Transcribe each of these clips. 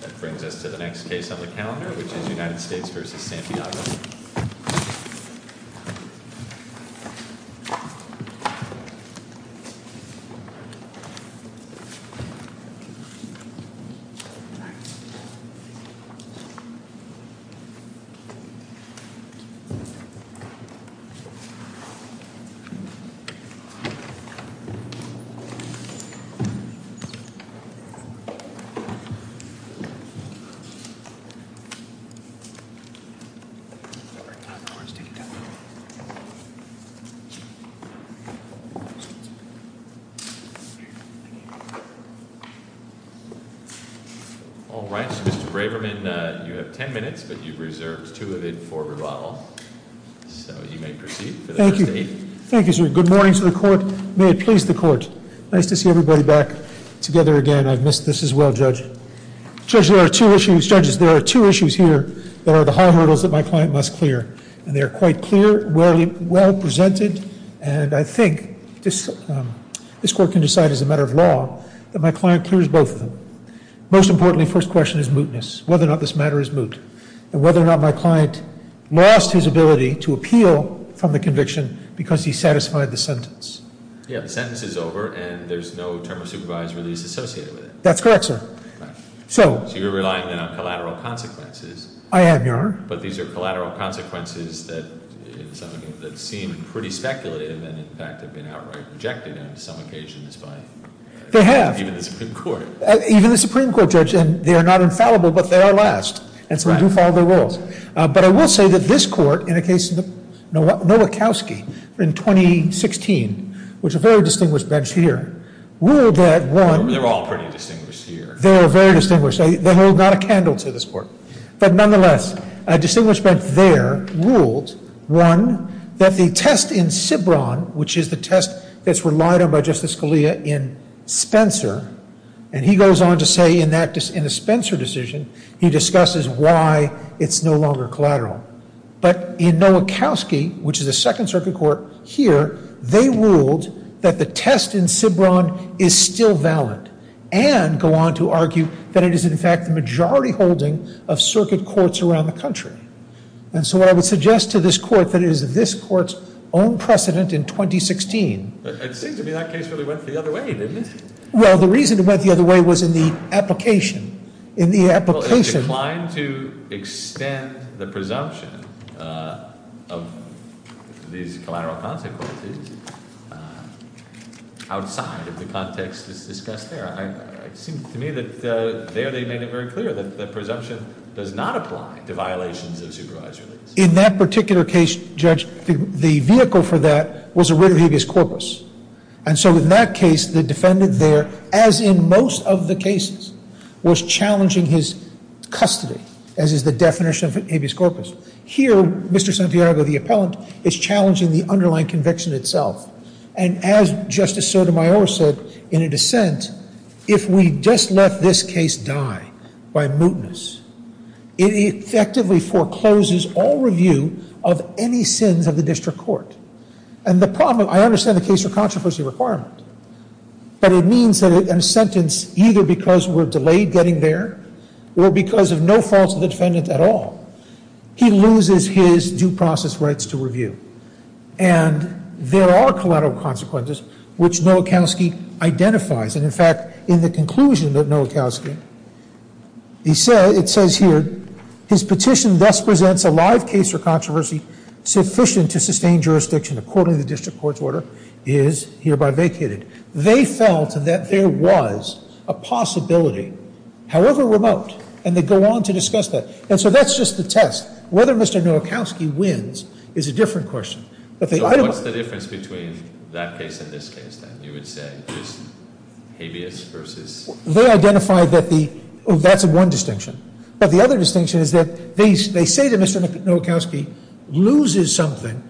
That brings us to the next case on the calendar, which is United States v. Santiago. All right, Mr. Braverman, you have 10 minutes, but you've reserved two of it for rebuttal. So you may proceed. Thank you. Thank you. Good morning to the court. May it please the court. Nice to see everybody back together again. I've missed this as well, Judge. Judges, there are two issues here that are the high hurdles that my client must clear. And they are quite clear, well presented, and I think this court can decide as a matter of law that my client clears both of them. Most importantly, the first question is mootness, whether or not this matter is moot, and whether or not my client lost his ability to appeal from the conviction because he satisfied the sentence. Yeah, the sentence is over and there's no term of supervised release associated with it. That's correct, sir. So you're relying on collateral consequences. I am, Your Honor. But these are collateral consequences that seem pretty speculative and in fact have been outright rejected on some occasions by even the Supreme Court. Even the Supreme Court, Judge, and they are not infallible, but they are last and some do follow their rules. But I will say that this court, in the case of Nowakowski in 2016, which is a very distinguished bench here, ruled that one- They're all pretty distinguished here. They are very distinguished. They hold not a candle to this court. But nonetheless, a distinguished bench there ruled, one, that the test in Sibron, which is the test that's relied on by Justice Scalia in Spencer, and he goes on to say in the Spencer decision, he discusses why it's no longer collateral. But in Nowakowski, which is a Second Circuit court here, they ruled that the test in Sibron is still valid and go on to argue that it is in fact the majority holding of circuit courts around the country. And so what I would suggest to this court that it is this court's own precedent in 2016- It seems to me that case really went the other way, didn't it? Well, the reason it went the other way was in the application. In the application- Well, it declined to extend the presumption of these collateral consequences outside of the context that's discussed there. It seems to me that there they made it very clear that the presumption does not apply to violations of supervised release. In that particular case, Judge, the vehicle for that was a writ of habeas corpus. And so in that case, the defendant there, as in most of the cases, was challenging his custody, as is the definition of habeas corpus. Here, Mr. Santiago, the appellant, is challenging the underlying conviction itself. And as Justice Sotomayor said in a dissent, if we just let this case die by mootness, it effectively forecloses all review of any sins of the district court. And the problem- I understand the case for controversy requirement, but it means that in a sentence, either because we're delayed getting there or because of no faults of the defendant at all, he loses his due process rights to review. And there are collateral consequences, which Nowakowski identifies. And, in fact, in the conclusion of Nowakowski, it says here, his petition thus presents a live case for controversy sufficient to sustain jurisdiction according to the district court's order, is hereby vacated. They felt that there was a possibility, however remote, and they go on to discuss that. And so that's just the test. Whether Mr. Nowakowski wins is a different question. But the item- So what's the difference between that case and this case, then? You would say just habeas versus- They identified that the- that's one distinction. But the other distinction is that they say that Mr. Nowakowski loses something,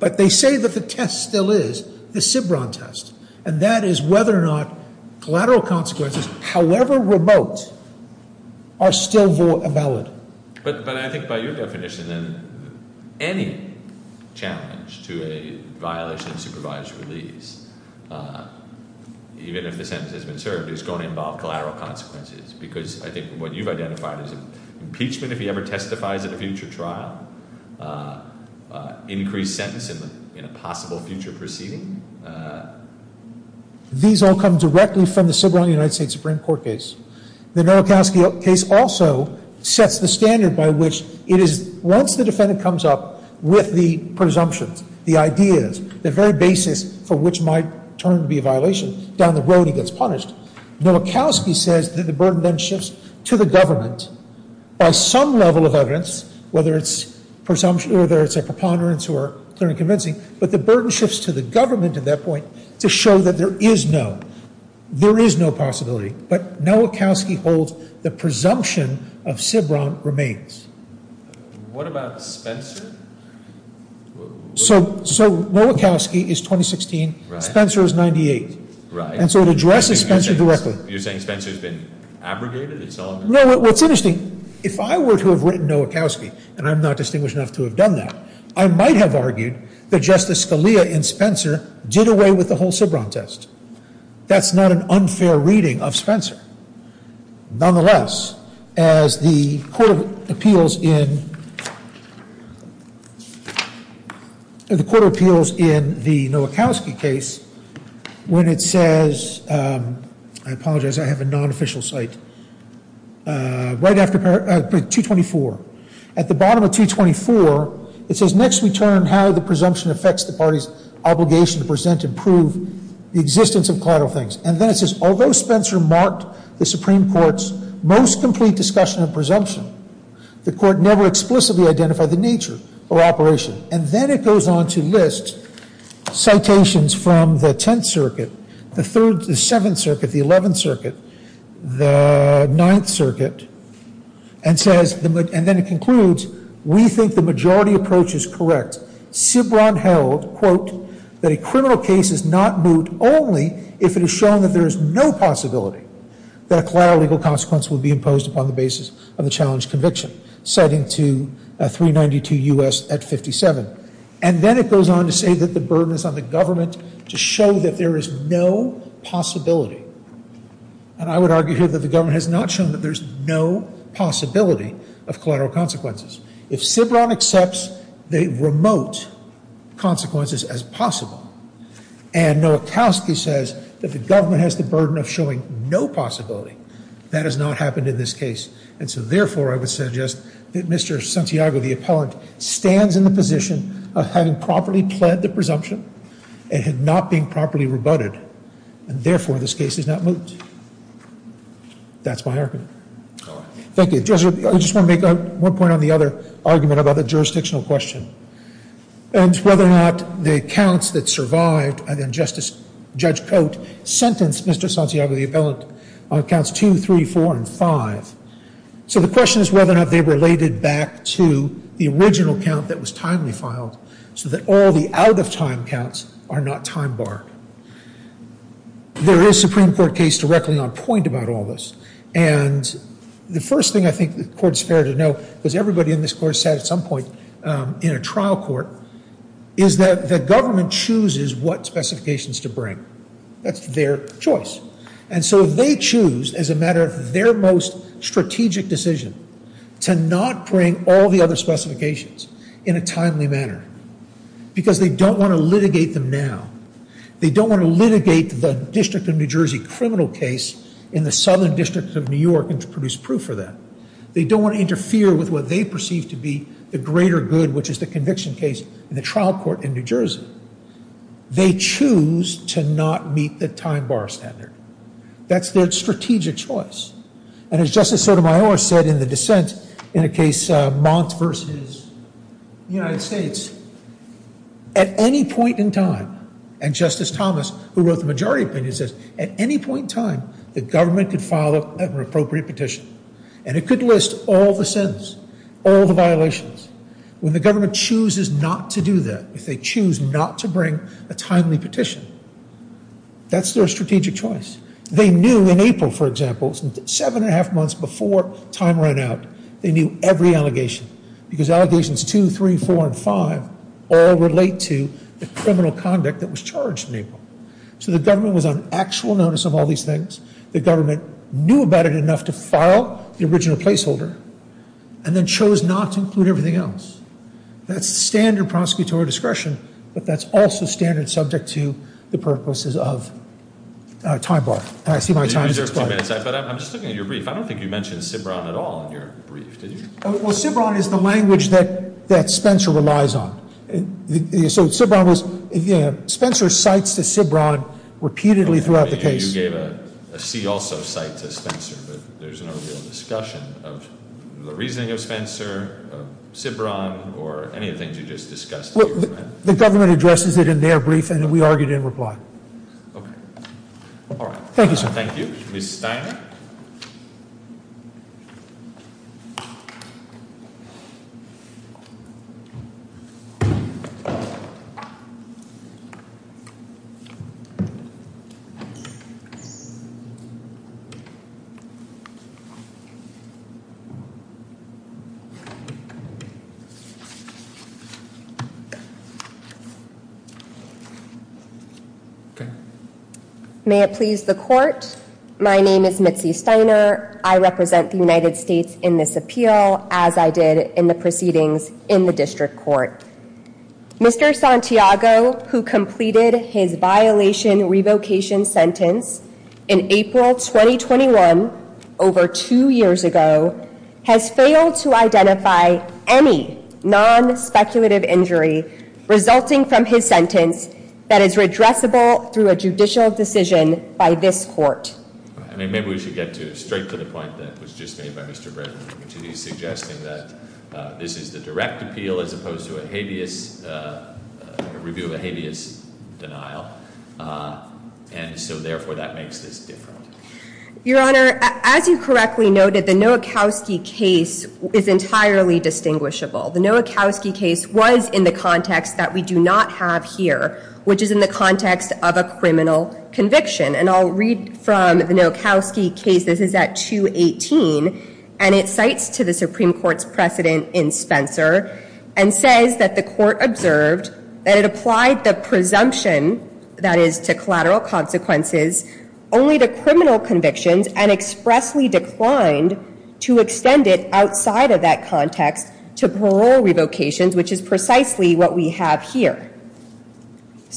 but they say that the test still is the Sibron test, and that is whether or not collateral consequences, however remote, are still valid. But I think by your definition, then, any challenge to a violation of supervised release, even if the sentence has been served, is going to involve collateral consequences because I think what you've identified is impeachment if he ever testifies at a future trial, increased sentence in a possible future proceeding. These all come directly from the Sibron United States Supreme Court case. The Nowakowski case also sets the standard by which it is- once the defendant comes up with the presumptions, the ideas, the very basis for which might turn to be a violation, down the road he gets punished. Nowakowski says that the burden then shifts to the government by some level of evidence, whether it's presumption- whether it's a preponderance or clear and convincing, but the burden shifts to the government at that point to show that there is no- there is no possibility. But Nowakowski holds the presumption of Sibron remains. What about Spencer? So- so Nowakowski is 2016. Spencer is 98. Right. And so it addresses Spencer directly. You're saying Spencer's been abrogated? No, what's interesting, if I were to have written Nowakowski, and I'm not distinguished enough to have done that, I might have argued that Justice Scalia in Spencer did away with the whole Sibron test. That's not an unfair reading of Spencer. Nonetheless, as the Court of Appeals in- the Court of Appeals in the Nowakowski case, when it says- I apologize, I have a non-official site. Right after- 224. At the bottom of 224, it says, Next we turn how the presumption affects the party's obligation to present and prove the existence of collateral things. And then it says, Although Spencer marked the Supreme Court's most complete discussion of presumption, the Court never explicitly identified the nature or operation. And then it goes on to list citations from the Tenth Circuit, the Third- the Seventh Circuit, the Eleventh Circuit, the Ninth Circuit, and says- and then it concludes, We think the majority approach is correct. Sibron held, quote, That a criminal case is not moot only if it is shown that there is no possibility that a collateral legal consequence would be imposed upon the basis of the challenged conviction. Citing to 392 U.S. at 57. And then it goes on to say that the burden is on the government to show that there is no possibility. And I would argue here that the government has not shown that there is no possibility of collateral consequences. If Sibron accepts the remote consequences as possible, and Nowakowski says that the government has the burden of showing no possibility, that has not happened in this case. And so therefore I would suggest that Mr. Santiago, the appellant, stands in the position of having properly pled the presumption and had not been properly rebutted. And therefore this case is not moot. That's my argument. Thank you. I just want to make one point on the other argument about the jurisdictional question. And it's whether or not the counts that survived, and then Judge Cote sentenced Mr. Santiago, the appellant, on counts 2, 3, 4, and 5. So the question is whether or not they related back to the original count that was timely filed so that all the out-of-time counts are not time-barred. There is a Supreme Court case directly on point about all this. And the first thing I think the court is fair to know, because everybody in this court sat at some point in a trial court, is that the government chooses what specifications to bring. That's their choice. And so they choose, as a matter of their most strategic decision, to not bring all the other specifications in a timely manner because they don't want to litigate them now. They don't want to litigate the District of New Jersey criminal case in the Southern District of New York and to produce proof for that. They don't want to interfere with what they perceive to be the greater good, which is the conviction case in the trial court in New Jersey. They choose to not meet the time-bar standard. That's their strategic choice. And as Justice Sotomayor said in the dissent in the case Mont versus the United States, at any point in time, and Justice Thomas, who wrote the majority opinion, says, at any point in time, the government could file an appropriate petition, and it could list all the sentences, all the violations. When the government chooses not to do that, if they choose not to bring a timely petition, that's their strategic choice. They knew in April, for example, seven and a half months before time ran out, they knew every allegation because allegations 2, 3, 4, and 5 all relate to the criminal conduct that was charged in April. So the government was on actual notice of all these things. The government knew about it enough to file the original placeholder and then chose not to include everything else. That's standard prosecutorial discretion, but that's also standard subject to the purposes of time-bar. I see my time is up. I'm just looking at your brief. I don't think you mentioned Sibron at all in your brief, did you? Well, Sibron is the language that Spencer relies on. So Sibron was – Spencer cites the Sibron repeatedly throughout the case. You gave a see-also cite to Spencer, but there's no real discussion of the reasoning of Spencer, of Sibron, or any of the things you just discussed. The government addresses it in their brief, and then we argue it in reply. Okay. All right. Thank you, sir. Thank you. Ms. Steiner? Thank you. May it please the Court, my name is Mitzi Steiner. I represent the United States in this appeal, as I did in the proceedings in the district court. Mr. Santiago, who completed his violation revocation sentence in April 2021, over two years ago, has failed to identify any non-speculative injury resulting from his sentence that is redressable through a judicial decision by this court. I mean, maybe we should get straight to the point that was just made by Mr. Bradford, which is he's suggesting that this is the direct appeal as opposed to a habeas – a review of a habeas denial. And so, therefore, that makes this different. Your Honor, as you correctly noted, the Nowakowski case is entirely distinguishable. The Nowakowski case was in the context that we do not have here, which is in the context of a criminal conviction. And I'll read from the Nowakowski case. This is at 218, and it cites to the Supreme Court's precedent in Spencer and says that the court observed that it applied the presumption, that is to collateral consequences, only to criminal convictions and expressly declined to extend it outside of that context to parole revocations, which is precisely what we have here.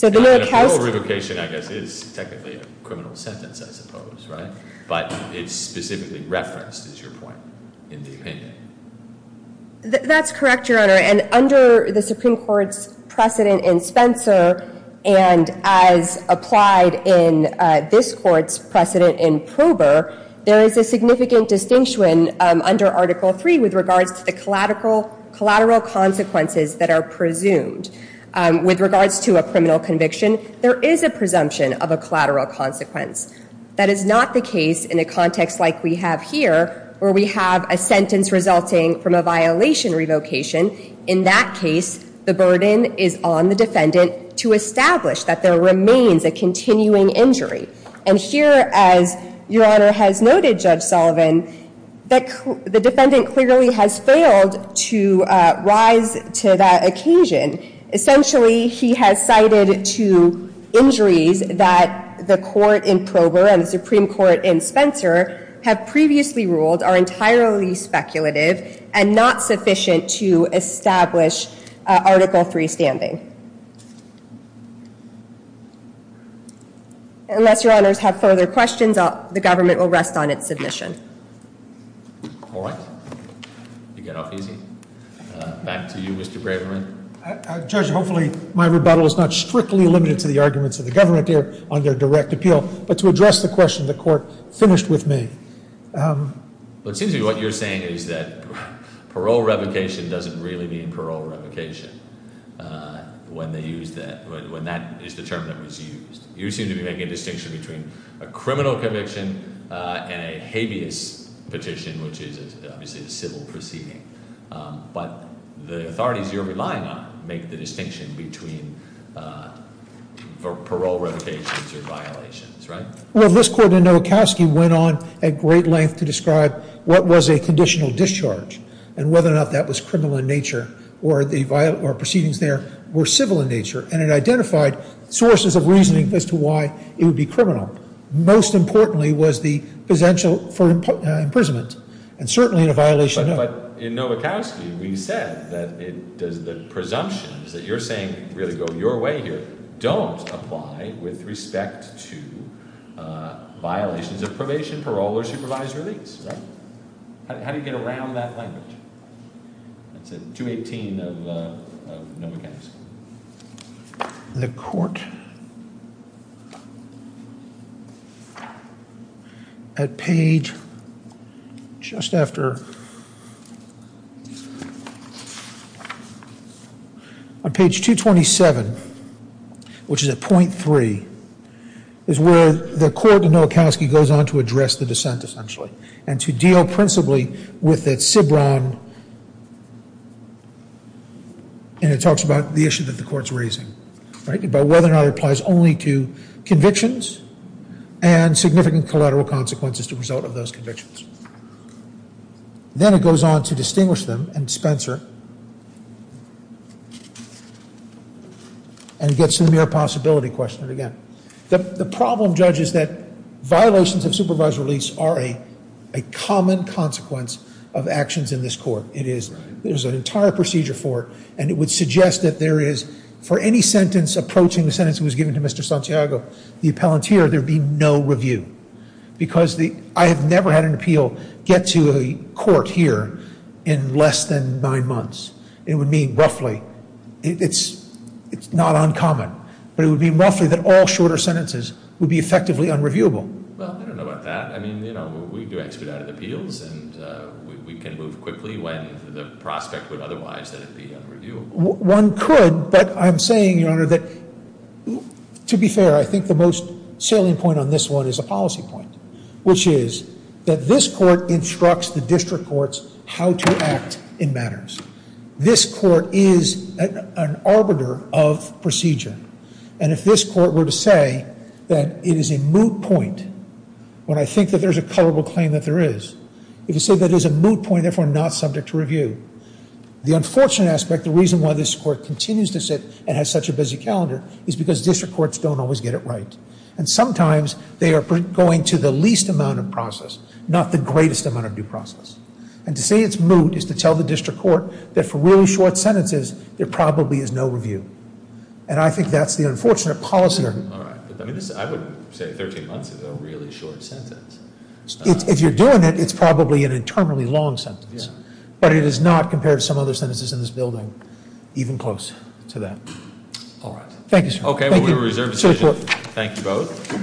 And a parole revocation, I guess, is technically a criminal sentence, I suppose, right? But it's specifically referenced, is your point, in the opinion. That's correct, Your Honor. And under the Supreme Court's precedent in Spencer and as applied in this court's precedent in Prober, there is a significant distinction under Article III with regards to the collateral consequences that are presumed, with regards to a criminal conviction, there is a presumption of a collateral consequence. That is not the case in a context like we have here, where we have a sentence resulting from a violation revocation. In that case, the burden is on the defendant to establish that there remains a continuing injury. And here, as Your Honor has noted, Judge Sullivan, the defendant clearly has failed to rise to that occasion Essentially, he has cited two injuries that the court in Prober and the Supreme Court in Spencer have previously ruled are entirely speculative and not sufficient to establish Article III standing. Unless Your Honors have further questions, the government will rest on its submission. All right. You get off easy. Back to you, Mr. Braverman. Judge, hopefully my rebuttal is not strictly limited to the arguments of the government here on their direct appeal, but to address the question the court finished with me. It seems to me what you're saying is that parole revocation doesn't really mean parole revocation when that is the term that was used. You seem to be making a distinction between a criminal conviction and a habeas petition, which is obviously a civil proceeding. But the authorities you're relying on make the distinction between parole revocations or violations, right? Well, this court in Nowakowski went on at great length to describe what was a conditional discharge and whether or not that was criminal in nature or the proceedings there were civil in nature. And it identified sources of reasoning as to why it would be criminal. Most importantly was the potential for imprisonment and certainly in a violation of... But in Nowakowski we said that the presumptions that you're saying really go your way here don't apply with respect to violations of probation, parole, or supervised release, right? How do you get around that language? That's in 218 of Nowakowski. The court at page... just after... on page 227, which is at point 3, is where the court in Nowakowski goes on to address the dissent essentially and to deal principally with that Sibron... and it talks about the issue that the court's raising, right? About whether or not it applies only to convictions and significant collateral consequences as a result of those convictions. Then it goes on to distinguish them and Spencer and gets to the mere possibility question again. The problem, Judge, is that violations of supervised release are a common consequence of actions in this court. There's an entire procedure for it and it would suggest that there is, for any sentence approaching the sentence that was given to Mr. Santiago, the appellant here, there'd be no review. Because I have never had an appeal get to a court here in less than nine months. It would mean roughly... It's not uncommon, but it would mean roughly that all shorter sentences would be effectively unreviewable. Well, I don't know about that. I mean, you know, we do expedited appeals and we can move quickly when the prospect would otherwise be unreviewable. One could, but I'm saying, Your Honor, that to be fair, I think the most salient point on this one is a policy point, which is that this court instructs the district courts how to act in matters. This court is an arbiter of procedure. And if this court were to say that it is a moot point when I think that there's a culpable claim that there is, if you say that it is a moot point, therefore not subject to review, the unfortunate aspect, the reason why this court continues to sit and has such a busy calendar, is because district courts don't always get it right. And sometimes they are going to the least amount of process, not the greatest amount of due process. And to say it's moot is to tell the district court that for really short sentences, there probably is no review. And I think that's the unfortunate policy error. All right. I would say 13 months is a really short sentence. If you're doing it, it's probably an eternally long sentence. But it is not, compared to some other sentences in this building, even close to that. All right. Thank you, sir. Okay, we reserve the decision. Thank you both.